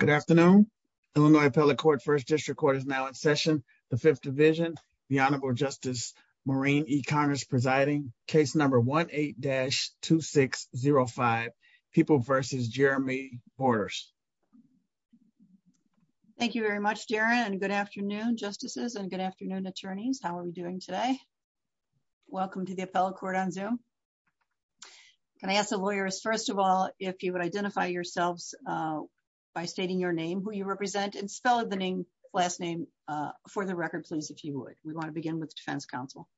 Good afternoon, Illinois appellate court First District Court is now in session. The Fifth Division, the Honorable Justice Maureen E. Connors presiding case number one eight dash two six zero five. People versus Jeremy Borders. Thank you very much, Darren, and good afternoon, justices and good afternoon, attorneys. How are we doing today? Welcome to the appellate court on Zoom. Can I ask the lawyers, first of all, if you would identify yourselves by stating your name, who you represent and spell the name last name for the record, please, if you would. We want to begin with the defense counsel.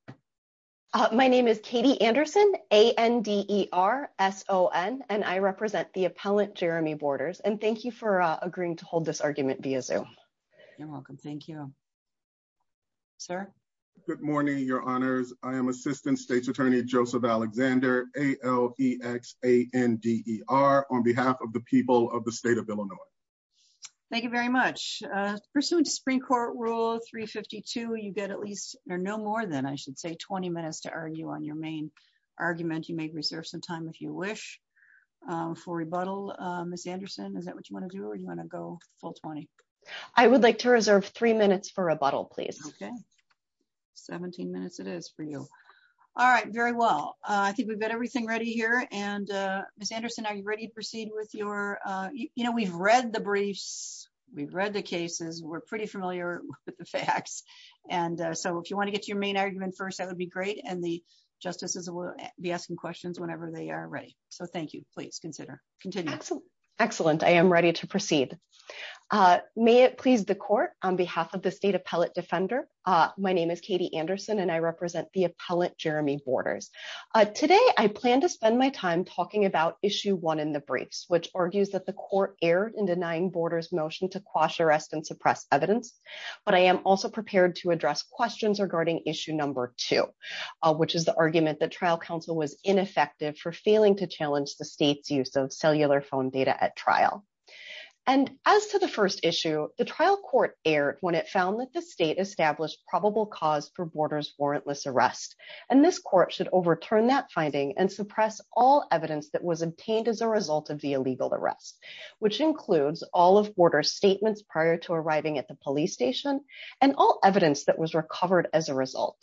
My name is Katie Anderson. A.N.D.E.R. S.O.N. and I represent the appellate Jeremy Borders. And thank you for agreeing to hold this argument via Zoom. You're welcome. Thank you. Sir, good morning, your honors, I am Assistant State's Attorney Joseph Alexander A.L. E.X. A.N.D.E.R. on behalf of the people of the state of Illinois. Thank you very much. Pursuant to Supreme Court Rule three fifty two, you get at least or no more than I should say 20 minutes to argue on your main argument. You may reserve some time if you wish for rebuttal. Miss Anderson, is that what you want to do or you want to go full 20? I would like to reserve three minutes for a bottle, please. OK, 17 minutes it is for you. All right. Very well. I think we've got everything ready here. And Miss Anderson, are you ready to proceed with your you know, we've read the briefs, we've read the cases, we're pretty familiar with the facts. And so if you want to get your main argument first, that would be great. And the justices will be asking questions whenever they are ready. So thank you. Please consider continue. Excellent. I am ready to proceed. May it please the court on behalf of the state appellate defender. My name is Katie Anderson and I represent the appellate Jeremy Borders. Today, I plan to spend my time talking about issue one in the briefs, which argues that the court erred in denying Borders motion to quash arrest and suppress evidence. But I am also prepared to address questions regarding issue number two, which is the argument that trial counsel was ineffective for failing to challenge the state's use of cellular phone data at as to the first issue, the trial court aired when it found that the state established probable cause for Borders warrantless arrest. And this court should overturn that finding and suppress all evidence that was obtained as a result of the illegal arrest, which includes all of Borders statements prior to arriving at the police station and all evidence that was recovered as a result.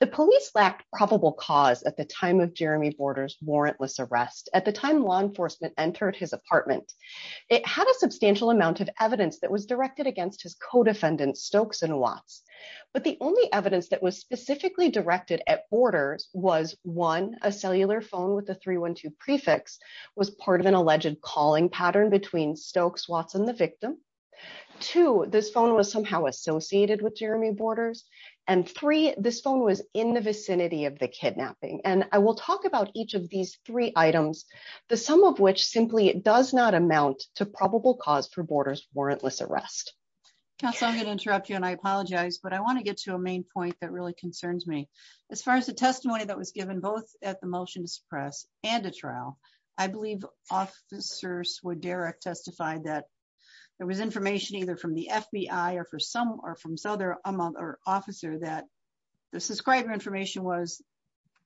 The police lacked probable cause at the time of Jeremy Borders warrantless arrest at the time law enforcement entered his apartment. It had a substantial amount of evidence that was directed against his co-defendant, Stokes and Watts. But the only evidence that was specifically directed at Borders was one, a cellular phone with a three one two prefix was part of an alleged calling pattern between Stokes, Watts and the victim. Two, this phone was somehow associated with Jeremy Borders and three, this phone was in the vicinity of the kidnapping. And I will talk about each of these three items, the sum of which simply does not amount to probable cause for Borders warrantless arrest. So I'm going to interrupt you and I apologize, but I want to get to a main point that really concerns me. As far as the testimony that was given, both at the motion to suppress and a trial, I believe officers would direct testified that there was information either from the FBI or for some or from Souther among our officer that the subscriber information was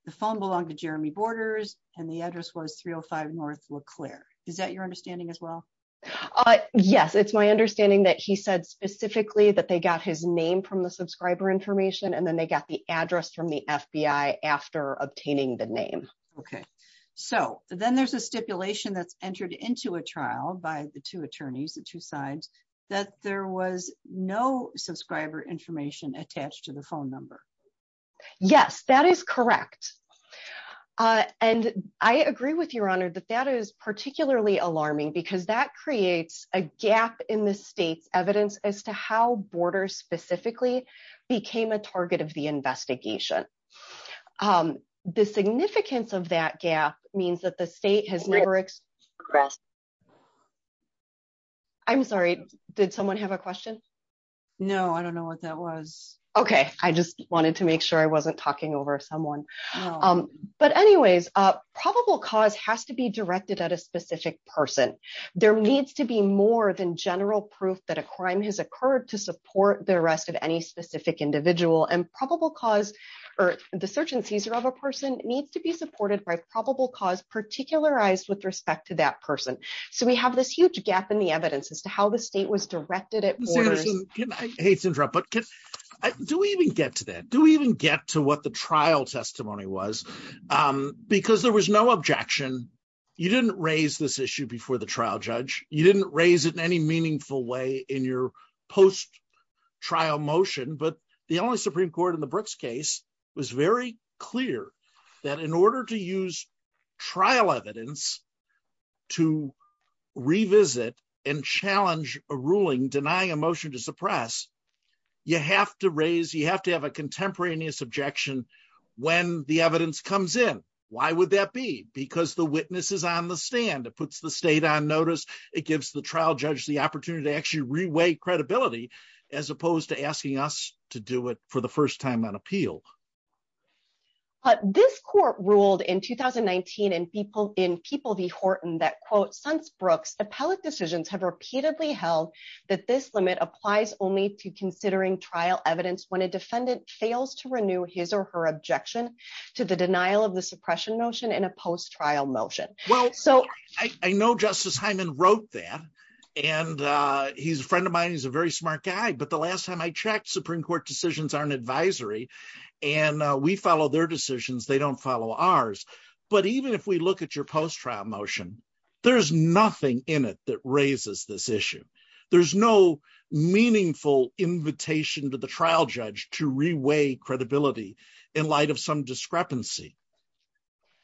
the phone belonged to Jeremy Borders and the address was three oh five North Leclerc. Is that your understanding as well? Yes, it's my understanding that he said specifically that they got his name from the subscriber information and then they got the address from the FBI after obtaining the name. OK, so then there's a stipulation that's entered into a trial by the two attorneys, the two sides, that there was no subscriber information attached to the phone number. Yes, that is correct. And I agree with your honor that that is particularly alarming because that creates a gap in the state's evidence as to how Borders specifically became a target of the investigation. The significance of that gap means that the state has never expressed. I'm sorry, did someone have a question? No, I don't know what that was. OK, I just wanted to make sure I wasn't talking over someone. But anyways, probable cause has to be directed at a specific person. There needs to be more than general proof that a crime has occurred to support the arrest of any specific individual. And probable cause or the search and seizure of a person needs to be supported by probable cause, particularized with respect to that person. So we have this huge gap in the evidence as to how the state was directed. I hate to interrupt, but do we even get to that? Do we even get to what the trial testimony was? Because there was no objection. You didn't raise this issue before the trial judge. You didn't raise it in any meaningful way in your post trial motion. But the only Supreme Court in the Brooks case was very clear that in order to use applying a motion to suppress, you have to raise you have to have a contemporaneous objection when the evidence comes in. Why would that be? Because the witnesses on the stand, it puts the state on notice. It gives the trial judge the opportunity to actually reweigh credibility as opposed to asking us to do it for the first time on appeal. But this court ruled in 2019 and people in People v. Horton that, quote, since Brooks, appellate decisions have repeatedly held that this limit applies only to considering trial evidence when a defendant fails to renew his or her objection to the denial of the suppression notion in a post trial motion. Well, so I know Justice Hyman wrote that. And he's a friend of mine. He's a very smart guy. But the last time I checked, Supreme Court decisions aren't advisory and we follow their decisions, they don't follow ours. But even if we look at your post trial motion, there's nothing in it that raises this issue. There's no meaningful invitation to the trial judge to reweigh credibility in light of some discrepancy.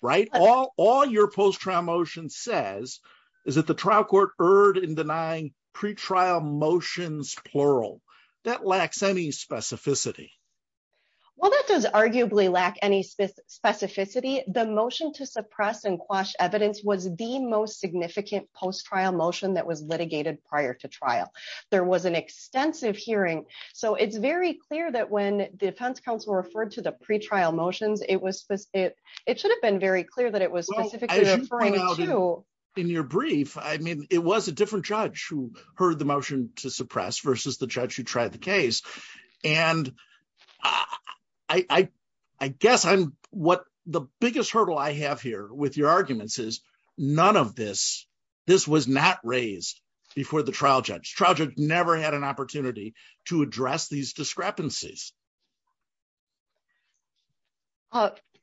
Right, all your post trial motion says is that the trial court erred in denying pretrial motions, plural, that lacks any specificity. Well, that does arguably lack any specificity. The motion to suppress and quash evidence was the most significant post trial motion that was litigated prior to trial. There was an extensive hearing. So it's very clear that when the defense counsel referred to the pretrial motions, it was it it should have been very clear that it was specifically referring to in your brief. I mean, it was a different judge who heard the motion to suppress versus the judge who tried the case. And I, I guess I'm what the biggest hurdle I have here with your arguments is none of this this was not raised before the trial judge. Trial judge never had an opportunity to address these discrepancies.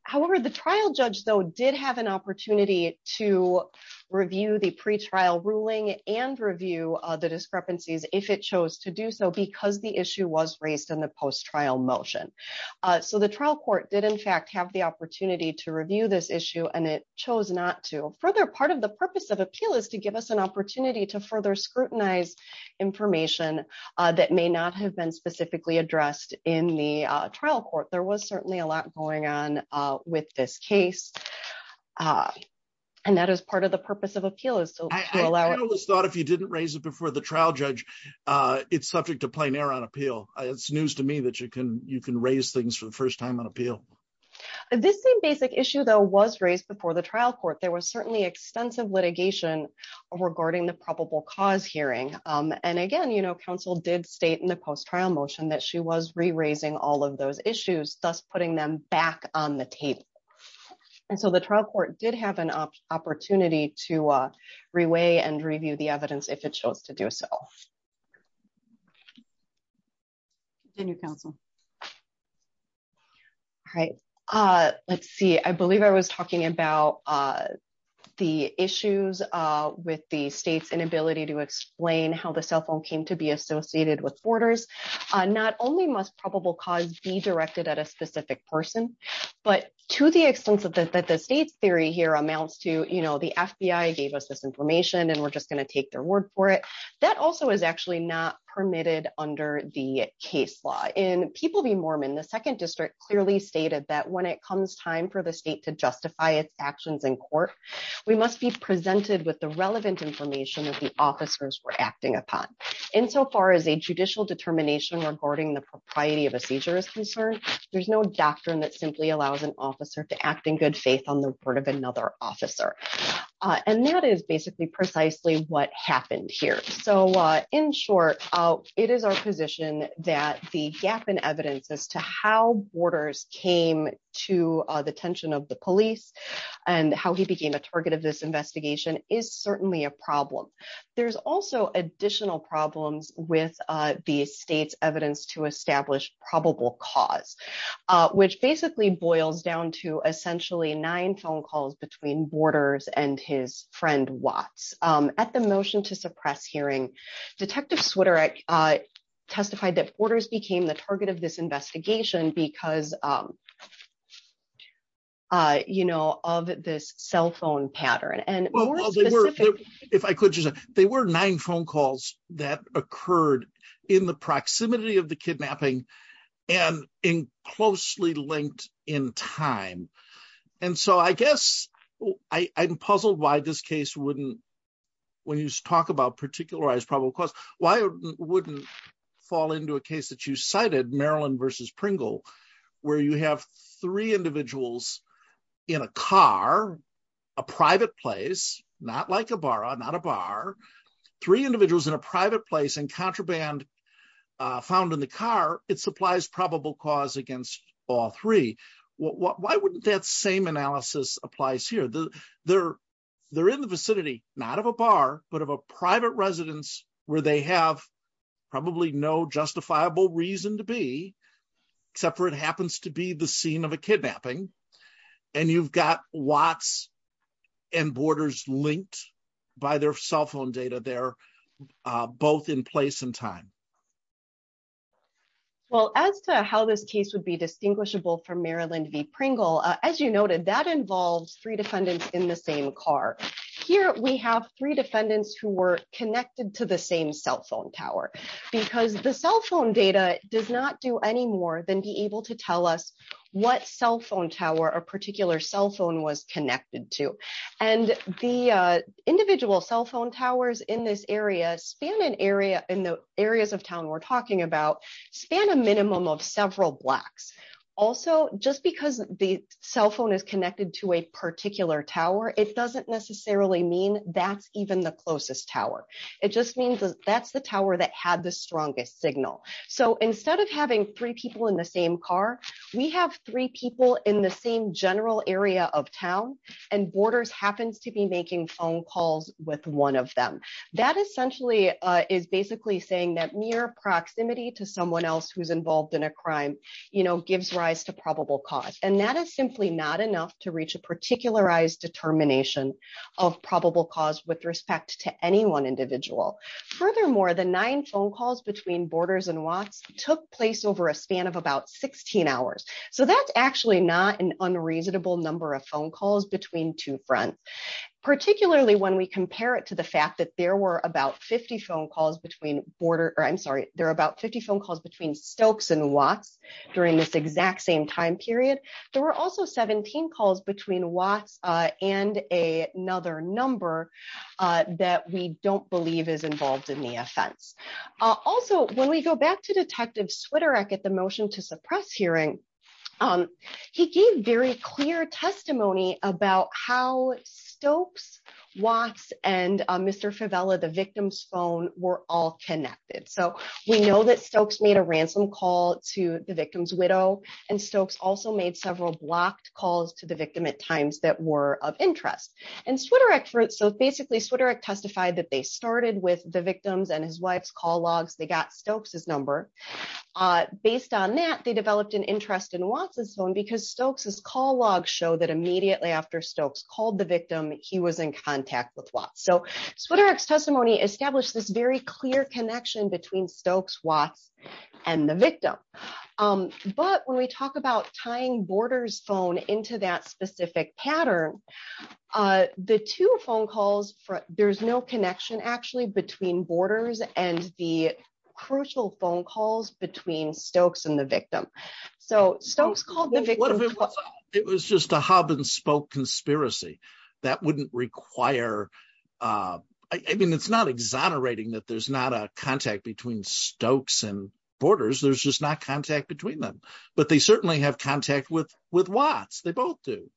However, the trial judge, though, did have an opportunity to review the pretrial ruling and review the discrepancies if it chose to do so, because the issue was raised in the post trial motion, so the trial court did, in fact, have the opportunity to review this issue and it chose not to. Further, part of the purpose of appeal is to give us an opportunity to further scrutinize information that may not have been specifically addressed in the trial court. There was certainly a lot going on with this case, and that is part of the purpose of appeal is to allow us thought if you didn't raise it before the trial judge, it's subject to plain air on appeal. It's news to me that you can you can raise things for the first time on appeal. This basic issue, though, was raised before the trial court. There was certainly extensive litigation regarding the probable cause hearing. And again, counsel did state in the post trial motion that she was raising all of those issues, thus putting them back on the table. And so the trial court did have an opportunity to reweigh and review the evidence if it chose to do so in your counsel. All right, let's see, I believe I was talking about the issues with the state's inability to explain how the cell phone came to be targeted at a specific person. But to the extent that the state's theory here amounts to, you know, the FBI gave us this information and we're just going to take their word for it. That also is actually not permitted under the case law in people. The Mormon, the second district clearly stated that when it comes time for the state to justify its actions in court, we must be presented with the relevant information that the officers were acting upon insofar as a judicial determination regarding the propriety of a seizure is concerned, there's no doctrine that simply allows an officer to act in good faith on the word of another officer. And that is basically precisely what happened here. So in short, it is our position that the gap in evidence as to how borders came to the attention of the police and how he became a target of this investigation is certainly a problem. There's also additional problems with the state's evidence to establish probable cause, which basically boils down to essentially nine phone calls between borders and his friend, Watts. At the motion to suppress hearing, Detective Swiderak testified that orders became the target of this investigation because, you know, of this cell phone pattern. And if I could, they were nine phone calls that occurred in the proximity of the kidnapping and in closely linked in time. And so I guess I'm puzzled why this case wouldn't when you talk about particularized probable cause, why wouldn't fall into a case that you cited, Maryland versus Pringle, where you have three individuals in a car, a private place, not like a bar, not a bar, three individuals in a private place and contraband found in the car. It supplies probable cause against all three. Why wouldn't that same analysis applies here? They're in the vicinity, not of a bar, but of a private residence where they have probably no justifiable reason to be, except for it happens to be the scene of a kidnapping. And you've got Watts and borders linked by their cell phone data there, both in place and time. Well, as to how this case would be distinguishable for Maryland v. Pringle, as you noted, that involves three defendants in the same car. Here we have three defendants who were connected to the same cell phone tower because the cell phone data does not do any more than be able to tell us what cell phone tower a particular cell phone was connected to and the individual cell phone towers in this area span an area in the areas of town we're talking about span a minimum of several blocks. Also, just because the cell phone is connected to a particular tower, it doesn't necessarily mean that's even the closest tower. It just means that's the tower that had the strongest signal. So instead of having three people in the same car, we have three people in the same general area of town and borders happens to be making phone calls with one of them. That essentially is basically saying that near proximity to someone else who's involved in a crime gives rise to probable cause, and that is simply not enough to reach a particularized determination of probable cause with respect to any one individual. Furthermore, the nine phone calls between borders and Watts took place over a span of about 16 hours. So that's actually not an unreasonable number of phone calls between two fronts, particularly when we compare it to the fact that there were about 50 phone calls between border or I'm sorry, there are about 50 phone calls between Stokes and Watts during this exact same time period. There were also 17 calls between Watts and another number that we don't believe is involved in the offense. Also, when we go back to Detective Switerek at the motion to suppress hearing, he gave very clear testimony about how Stokes, Watts and Mr. Favella, the victim's phone were all connected. So we know that Stokes made a ransom call to the victim's widow. And Stokes also made several blocked calls to the victim at times that were of interest and Switerek. So basically, Switerek testified that they started with the victims and his wife's call logs. They got Stokes's number. Based on that, they developed an interest in Watts's phone because Stokes's call logs show that immediately after Stokes called the victim, he was in contact with Watts. So Switerek's testimony established this very clear connection between Stokes, Watts and the victim. But when we talk about tying borders phone into that specific pattern, the two phone calls, there's no connection actually between borders and the crucial phone calls between Stokes and the victim. So Stokes called the victim. It was just a hub and spoke conspiracy that wouldn't require. I mean, it's not exonerating that there's not a contact between Stokes and borders, there's just not contact between them. But they certainly have contact with with Watts. They both do.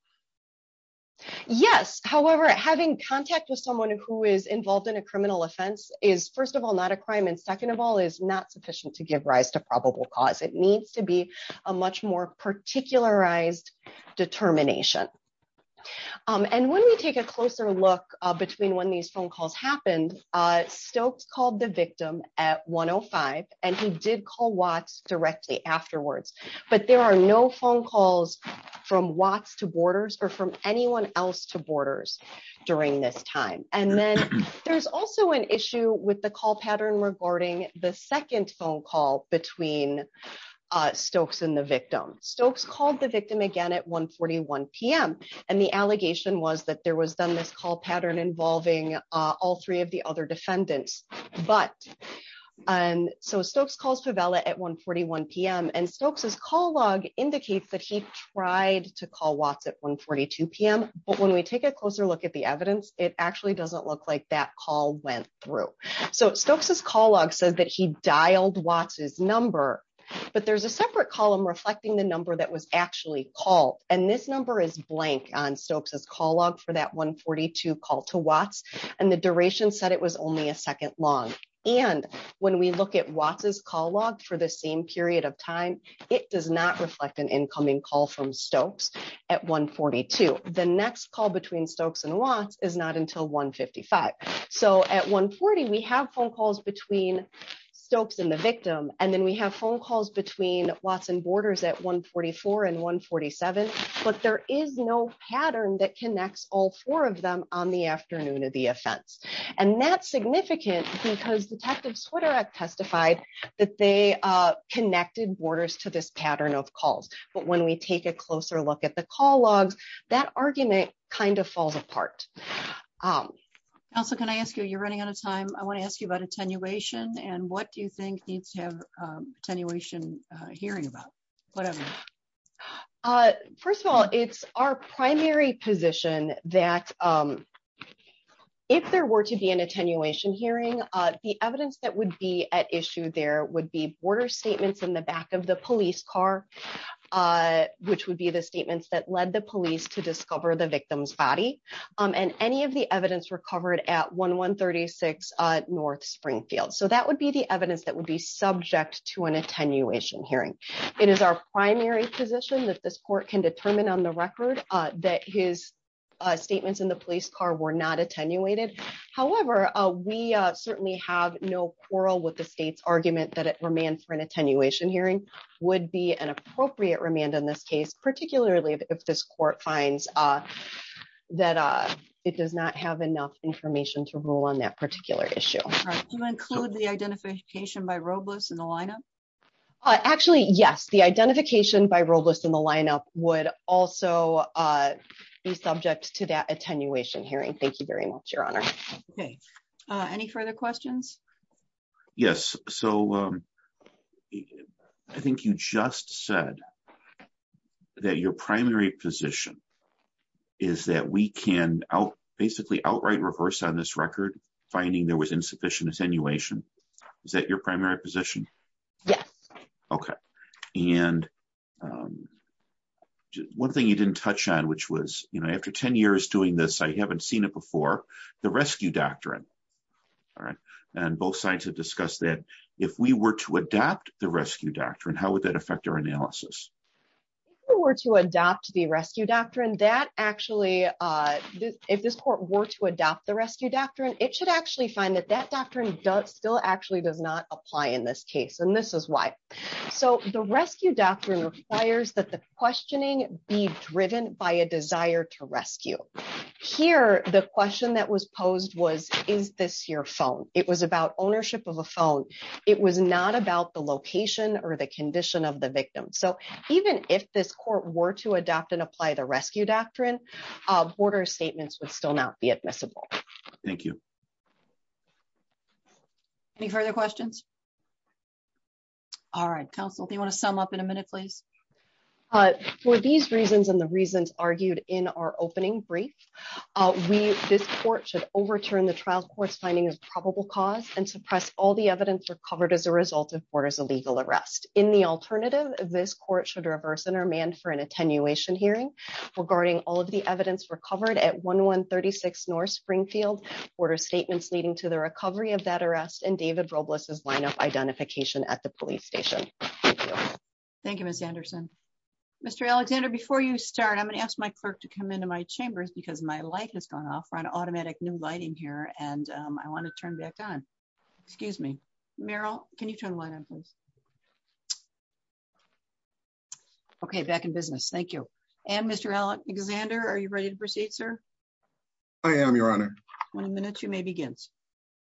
Yes, however, having contact with someone who is involved in a criminal offense is, first of all, not a crime. And second of all, is not sufficient to give rise to probable cause. It needs to be a much more particularized determination. And when we take a closer look between when these phone calls happened, Stokes called the victim at one oh five and he did call Watts directly afterwards. But there are no phone calls from Watts to borders or from anyone else to borders during this time. And then there's also an issue with the call pattern regarding the second phone call between Stokes and the victim. Stokes called the victim again at one forty one p.m. and the allegation was that there was then this call pattern involving all three of the other defendants. But and so Stokes calls for Bella at one forty one p.m. and Stokes's call log indicates that he tried to call Watts at one forty two p.m. But when we take a closer look at the evidence, it actually doesn't look like that call went through. So Stokes's call log says that he dialed Watts's number, but there's a separate column reflecting the number that was actually called. And this number is blank on Stokes's call log for that one forty two call to Watts. And the duration said it was only a second long. And when we look at Watts's call log for the same period of time, it does not reflect an incoming call from Stokes at one forty two. The next call between Stokes and Watts is not until one fifty five. So at one forty, we have phone calls between Stokes and the victim. And then we have phone calls between Watts and borders at one forty four and one forty seven. But there is no pattern that connects all four of them on the afternoon of the offense. And that's significant because Detective Swiderak testified that they connected borders to this pattern of calls. But when we take a closer look at the call logs, that argument kind of falls apart. Also, can I ask you, you're running out of time. I want to ask you about attenuation. And what do you think needs to have attenuation hearing about whatever? First of all, it's our primary position that if there were to be an attenuation hearing, the evidence that would be at issue, there would be border statements in the back of the police car, which would be the statements that led the police to discover the victim's body and any of the evidence recovered at one one thirty six North Springfield. So that would be the evidence that would be subject to an attenuation hearing. It is our primary position that this court can determine on the record that his statements in the police car were not attenuated. However, we certainly have no quarrel with the state's argument that it remains for an attenuation hearing would be an appropriate remand in this case, particularly if this court finds that it does not have enough information to rule on that particular issue. To include the identification by Robles in the lineup. Actually, yes, the identification by Robles in the lineup would also be subject to that attenuation hearing. Thank you very much, Your Honor. OK, any further questions? Yes, so I think you just said that your primary position is that we can basically outright reverse on this record, finding there was insufficient attenuation. Is that your primary position? Yes. OK. And one thing you didn't touch on, which was after 10 years doing this, I haven't seen it before, the rescue doctrine. All right. And both sides have discussed that if we were to adapt the rescue doctrine, how would that affect our analysis? Were to adopt the rescue doctrine that actually if this court were to adopt the rescue doctrine, it should actually find that that doctrine still actually does not apply in this case. And this is why. So the rescue doctrine requires that the questioning be driven by a desire to rescue. Here, the question that was posed was, is this your phone? It was about ownership of a phone. It was not about the location or the condition of the victim. So even if this court were to adopt and apply the rescue doctrine, border statements would still not be admissible. Thank you. Any further questions? All right, counsel, they want to sum up in a minute, please. For these reasons and the reasons argued in our opening brief, we this court should overturn the trial court's finding of probable cause and suppress all the evidence recovered as a result of borders, a legal arrest in the alternative. This court should reverse and are manned for an attenuation hearing regarding all of the evidence recovered at one one thirty six North Springfield border statements leading to the recovery of that arrest and David Robles is lineup identification at the police station. Thank you, Miss Anderson. Mr. Alexander, before you start, I'm going to ask my clerk to come into my chambers because my light has gone off on automatic new lighting here. And I want to turn back on. Excuse me, Meryl. Can you turn one on, please? OK, back in business, thank you. And Mr. Alexander, are you ready to proceed, sir? I am, Your Honor. One minute you may begin.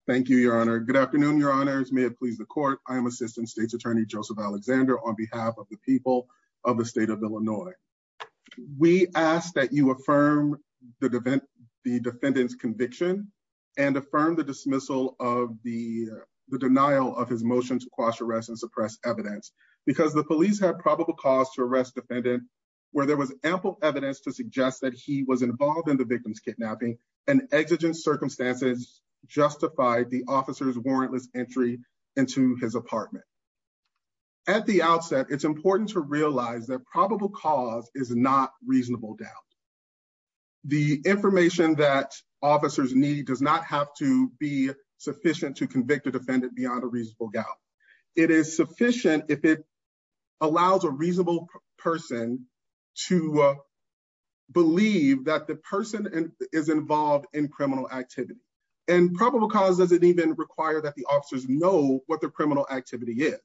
Thank you, Your Honor. Good afternoon, Your Honors. May it please the court. I am assistant state's attorney, Joseph Alexander, on behalf of the people of the state of Illinois. We ask that you affirm the defense, the defendant's conviction and affirm the dismissal of the denial of his motion to quash arrest and suppress evidence because the police have probable cause to arrest defendant where there was ample evidence to suggest that he was involved in the victim's kidnapping and exigent circumstances justified the officer's warrantless entry into his apartment. At the outset, it's important to realize that probable cause is not reasonable doubt. The information that officers need does not have to be sufficient to convict a defendant beyond a reasonable doubt. It is sufficient if it allows a reasonable person to believe that the person is involved in criminal activity and probable cause. Does it even require that the officers know what the criminal activity is?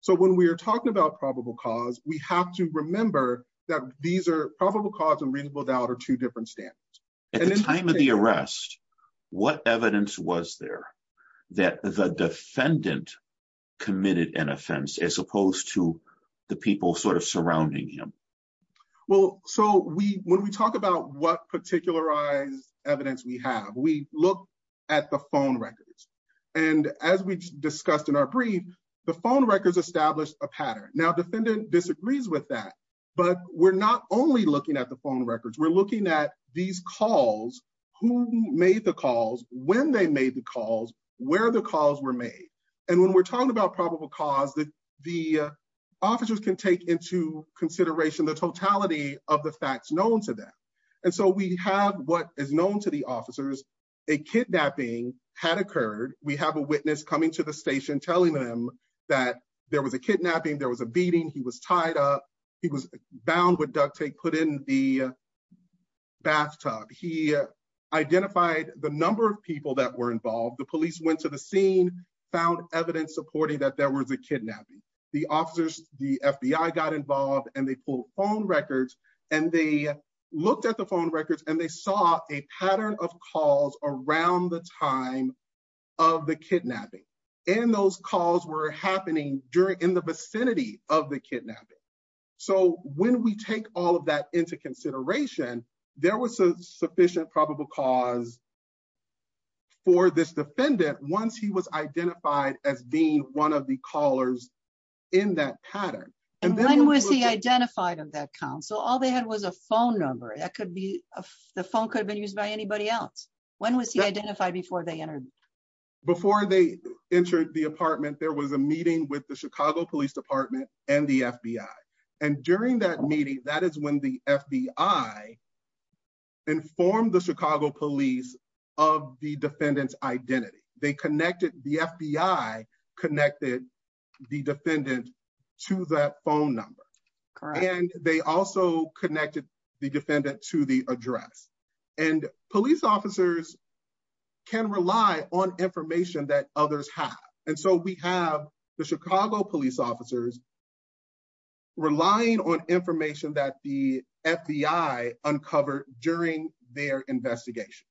So when we are talking about probable cause, we have to remember that these are probable cause and reasonable doubt or two different standards at the time of the arrest. What evidence was there that the defendant committed an offense as opposed to the people sort of surrounding him? Well, so we when we talk about what particularized evidence we have, we look at the phone records and as we discussed in our brief, the phone records established a pattern. Now, defendant disagrees with that, but we're not only looking at the phone records, we're looking at these calls, who made the calls, when they made the calls, where the calls were made, and when we're talking about probable cause that the officers can take into consideration the totality of the facts known to them. And so we have what is known to the officers. A kidnapping had occurred. We have a witness coming to the station telling them that there was a kidnapping, there was a beating. He was tied up. He was bound with duct tape, put in the bathtub. He identified the number of people that were involved. The police went to the scene, found evidence supporting that there was a kidnapping, the officers, the FBI got involved and they pulled phone records and they looked at the phone records and they saw a pattern of calls around the time of the kidnapping. And those calls were happening during in the vicinity of the kidnapping. So when we take all of that into consideration, there was a sufficient probable cause. For this defendant, once he was identified as being one of the callers in that pattern and then was he identified of that council, all they had was a phone number that could be the phone could have been used by anybody else. When was he identified before they entered? Before they entered the apartment, there was a meeting with the Chicago Police Department and the FBI. And during that meeting, that is when the FBI. Informed the Chicago police of the defendant's identity, they connected, the FBI connected the defendant to that phone number, and they also connected the defendant to the address. And police officers can rely on information that others have. And so we have the Chicago police officers. Relying on information that the FBI uncovered during their investigation.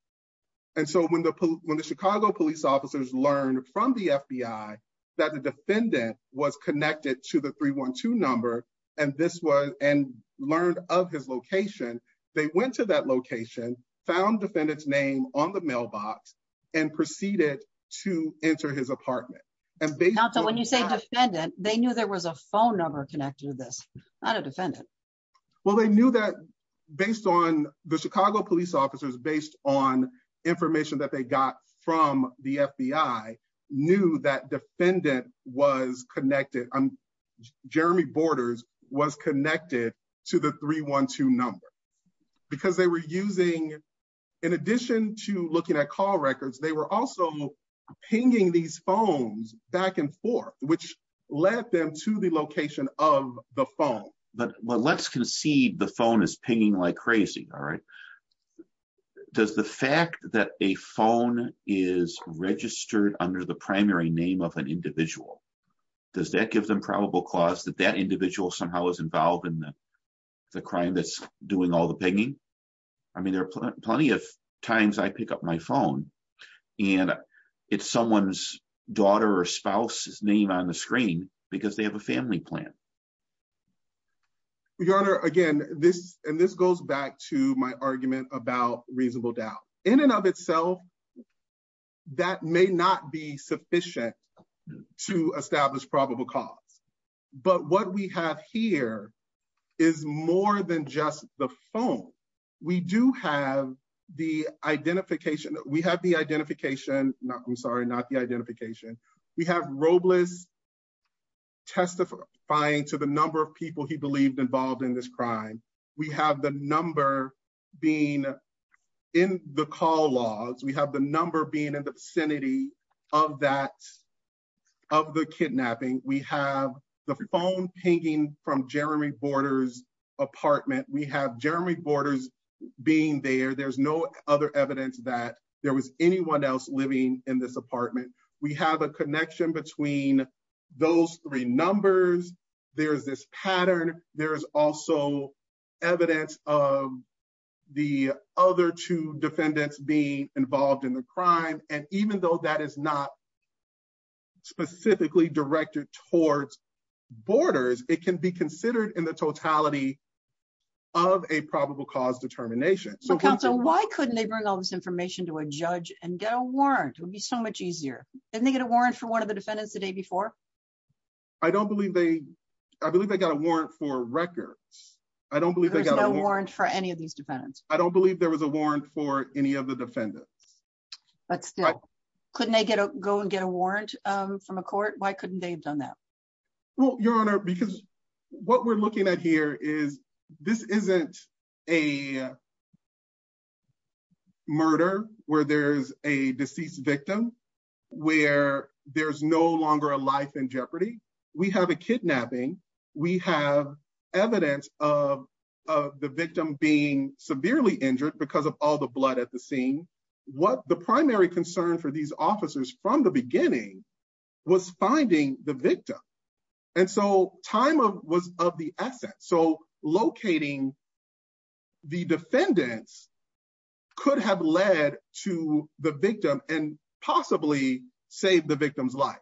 And so when the when the Chicago police officers learned from the FBI that the defendant was connected to the 312 number and this was and learned of his location, they went to that location, found defendants name on the mailbox and proceeded to enter his apartment. And so when you say defendant, they knew there was a phone number connected to this, not a defendant. Well, they knew that based on the Chicago police officers, based on information that they got from the FBI, knew that defendant was connected. Jeremy Borders was connected to the 312 number because they were using. In addition to looking at call records, they were also pinging these phones back and forth, which led them to the location of the phone. But let's concede the phone is pinging like crazy. All right. Does the fact that a phone is registered under the primary name of an individual, does that give them probable cause that that individual somehow is involved in the crime that's doing all the pinging? I mean, there are plenty of times I pick up my phone and it's someone's daughter or spouse's name on the screen because they have a family plan. Your Honor, again, this and this goes back to my argument about reasonable doubt in and of itself. That may not be sufficient to establish probable cause. But what we have here is more than just the phone. We do have the identification. We have the identification. I'm sorry, not the identification. We have Robles testifying to the number of people he believed involved in this crime. We have the number being in the call logs. We have the number being in the vicinity of that, of the kidnapping. We have the phone pinging from Jeremy Borders apartment. We have Jeremy Borders being there. There's no other evidence that there was anyone else living in this apartment. We have a connection between those three numbers. There's this pattern. There is also evidence of the other two defendants being involved in the crime. And even though that is not. Specifically directed towards borders, it can be considered in the totality of a probable cause determination. So why couldn't they bring all this information to a judge and get a warrant would be so much easier. And they get a warrant for one of the defendants the day before. I don't believe they I believe they got a warrant for records. I don't believe they got a warrant for any of these defendants. I don't believe there was a warrant for any of the defendants. But still, couldn't they go and get a warrant from a court? Why couldn't they have done that? Well, Your Honor, because what we're looking at here is this isn't a. Murder where there's a deceased victim, where there's no longer a life in jeopardy. We have a kidnapping. We have evidence of of the victim being severely injured because of all the blood at the scene. What the primary concern for these officers from the beginning was finding the victim. And so time was of the essence. So locating. The defendants could have led to the victim and possibly save the victim's life.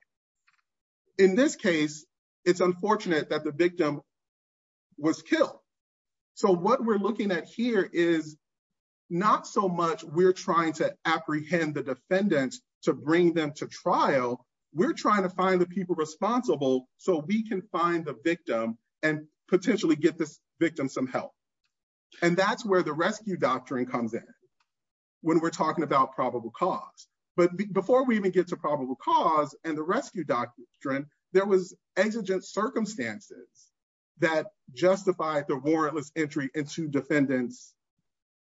In this case, it's unfortunate that the victim was killed. So what we're looking at here is not so much. We're trying to apprehend the defendants to bring them to trial. We're trying to find the people responsible so we can find the victim and potentially get this victim some help. And that's where the rescue doctrine comes in. When we're talking about probable cause, but before we even get to probable cause and the rescue doctrine, there was exigent circumstances that justified the warrantless entry into defendants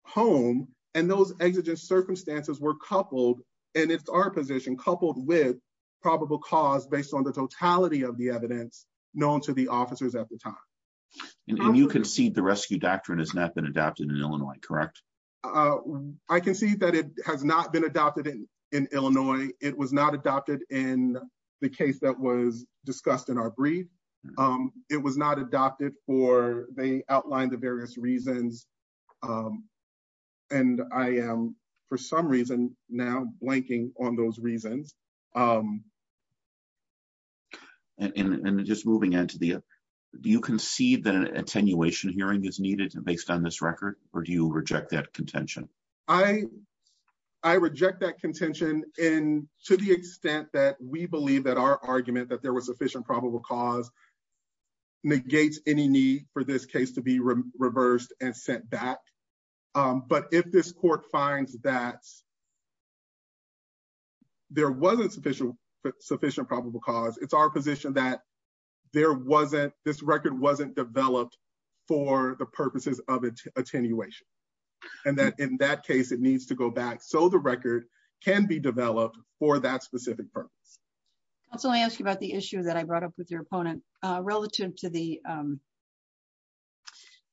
home and those exigent circumstances were coupled. And it's our position coupled with probable cause based on the totality of the evidence known to the officers at the time. And you concede the rescue doctrine has not been adapted in Illinois, correct? Uh, I can see that it has not been adopted in Illinois. It was not adopted in the case that was discussed in our brief. It was not adopted for the outline, the various reasons. And I am for some reason now blanking on those reasons. And just moving into the you can see that an attenuation hearing is needed based on this record. Or do you reject that contention? I I reject that contention. And to the extent that we believe that our argument that there was sufficient probable cause. Negates any need for this case to be reversed and sent back. But if this court finds that. There was a sufficient sufficient probable cause, it's our position that there wasn't this record wasn't developed for the purposes of attenuation. And that in that case, it needs to go back. So the record can be developed for that specific purpose. So let me ask you about the issue that I brought up with your opponent relative to the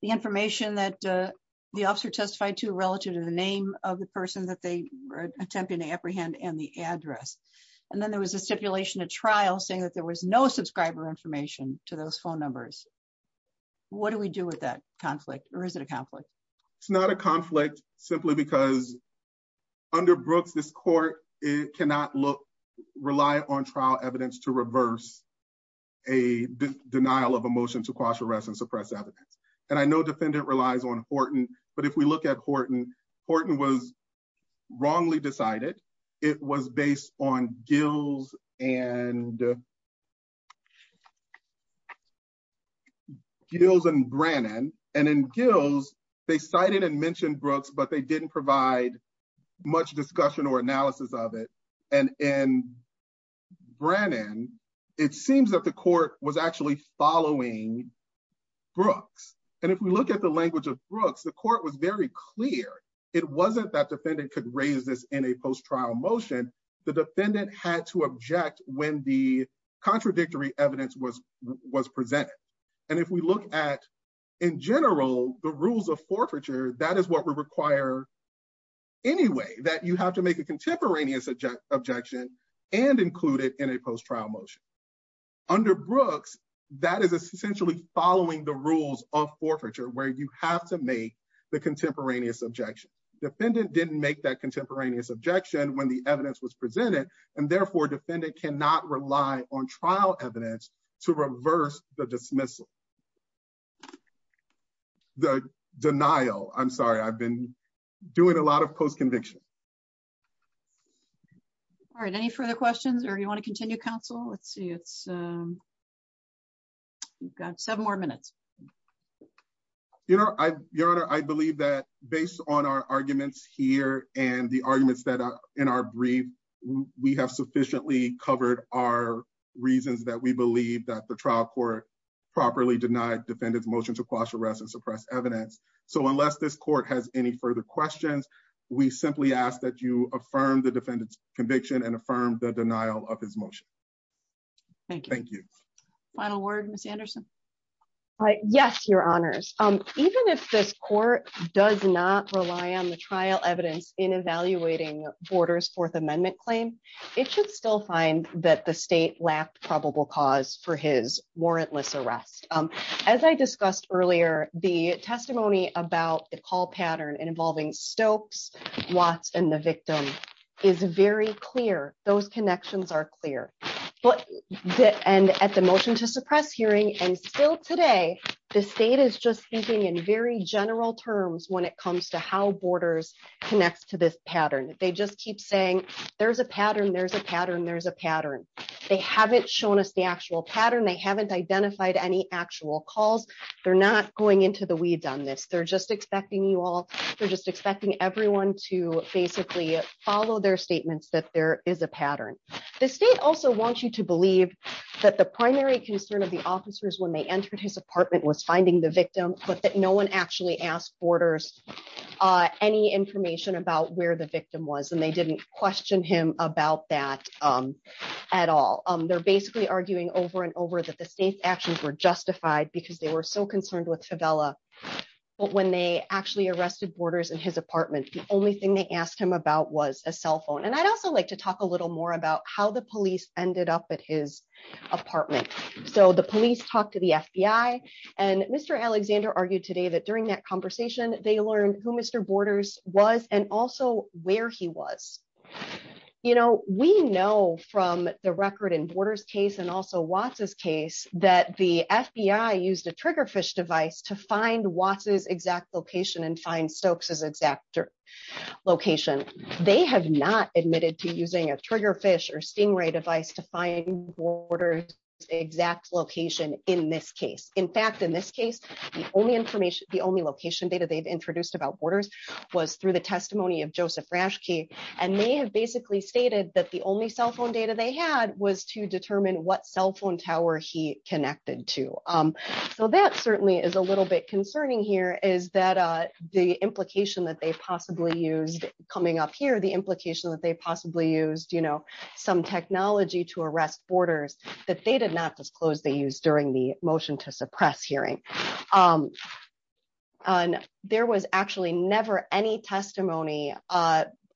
the information that the officer testified to relative to the name of the person that they were attempting to apprehend and the address. And then there was a stipulation, a trial saying that there was no subscriber information to those phone numbers. What do we do with that conflict or is it a conflict? It's not a conflict simply because under Brooks, this court cannot look rely on trial evidence to reverse a denial of a motion to cross arrest and suppress evidence. And I know defendant relies on Horton. But if we look at Horton, Horton was wrongly decided. It was based on Gill's and. Gills and Brannon and then Gills, they cited and mentioned Brooks, but they didn't provide much discussion or analysis of it. And in Brannon, it seems that the court was actually following Brooks. And if we look at the language of Brooks, the court was very clear. It wasn't that defendant could raise this in a post-trial motion. The defendant had to object when the contradictory evidence was was presented. And if we look at in general the rules of forfeiture, that is what we require anyway, that you have to make a contemporaneous objection and include it in a post-trial motion. Under Brooks, that is essentially following the rules of forfeiture where you have to make the contemporaneous objection. Defendant didn't make that contemporaneous objection when the evidence was presented and therefore defendant cannot rely on trial evidence to reverse the dismissal. The denial, I'm sorry, I've been doing a lot of post-conviction. All right, any further questions or you want to continue, counsel? Let's see, it's. We've got seven more minutes. You know, Your Honor, I believe that based on our arguments here and the arguments that are in our brief, we have sufficiently covered our reasons that we believe that the trial court properly denied defendant's motion to quash arrest and suppress evidence. So unless this court has any further questions, we simply ask that you affirm the defendant's conviction and affirm the denial of his motion. Thank you. Final word, Ms. Anderson. All right. Yes, Your Honors. Even if this court does not rely on the trial evidence in evaluating Borders Fourth Amendment claim, it should still find that the state lacked probable cause for his warrantless arrest. As I discussed earlier, the testimony about the call pattern involving Stokes, Watts and the victim is very clear. Those connections are clear. And at the motion to suppress hearing and still today, the state is just speaking in very general terms when it comes to how Borders connects to this pattern. They just keep saying there's a pattern, there's a pattern, there's a pattern. They haven't shown us the actual pattern. They haven't identified any actual calls. They're not going into the weeds on this. They're just expecting you all. that there is a pattern. The state also wants you to believe that the primary concern of the officers when they entered his apartment was finding the victim, but that no one actually asked Borders any information about where the victim was and they didn't question him about that at all. They're basically arguing over and over that the state's actions were justified because they were so concerned with Favela. But when they actually arrested Borders in his apartment, the only thing they asked him about was a cell phone. And I'd also like to talk a little more about how the police ended up at his apartment. So the police talked to the FBI and Mr. Alexander argued today that during that conversation, they learned who Mr. Borders was and also where he was. You know, we know from the record and Borders case and also Watts's case that the FBI used a trigger fish device to find Watts's exact location and find admitted to using a trigger fish or stingray device to find Borders exact location in this case. In fact, in this case, the only information, the only location data they've introduced about Borders was through the testimony of Joseph Raschke, and they have basically stated that the only cell phone data they had was to determine what cell phone tower he connected to. So that certainly is a little bit concerning here is that the implication that they possibly used coming up here, the implication that they possibly used, you know, some technology to arrest Borders that they did not disclose they used during the motion to suppress hearing. And there was actually never any testimony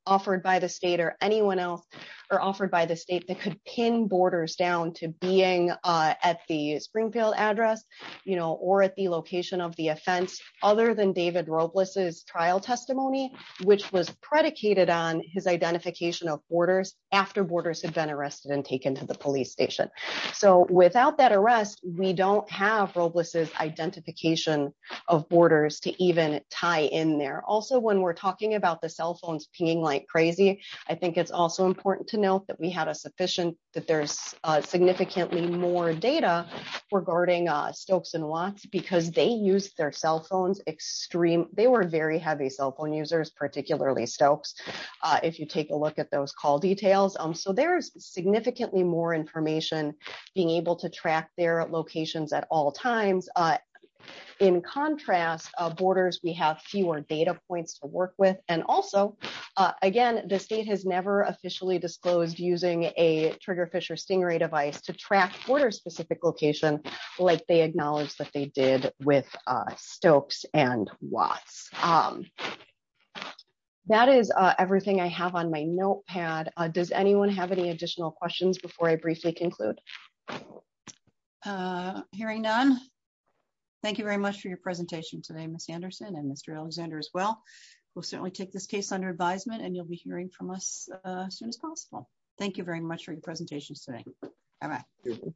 offered by the state or anyone else or offered by the state that could pin Borders down to being at the Springfield address, you know, or at the location of the offense other than David Robles trial testimony, which was predicated on his identification of Borders after Borders had been arrested and taken to the police station. So without that arrest, we don't have Robles's identification of Borders to even tie in there. Also, when we're talking about the cell phones pinging like crazy, I think it's also important to note that we had a sufficient that there's significantly more data regarding Stokes and Watts because they used their cell phone users, particularly Stokes, if you take a look at those call details. So there's significantly more information being able to track their locations at all times. In contrast, Borders, we have fewer data points to work with. And also, again, the state has never officially disclosed using a trigger Fisher Stingray device to track border specific location like they acknowledge that they did with Stokes and Watts. That is everything I have on my notepad. Does anyone have any additional questions before I briefly conclude? Hearing none. Thank you very much for your presentation today, Ms. Anderson and Mr. Alexander as well. We'll certainly take this case under advisement and you'll be hearing from us soon as possible. Thank you very much for your presentation today.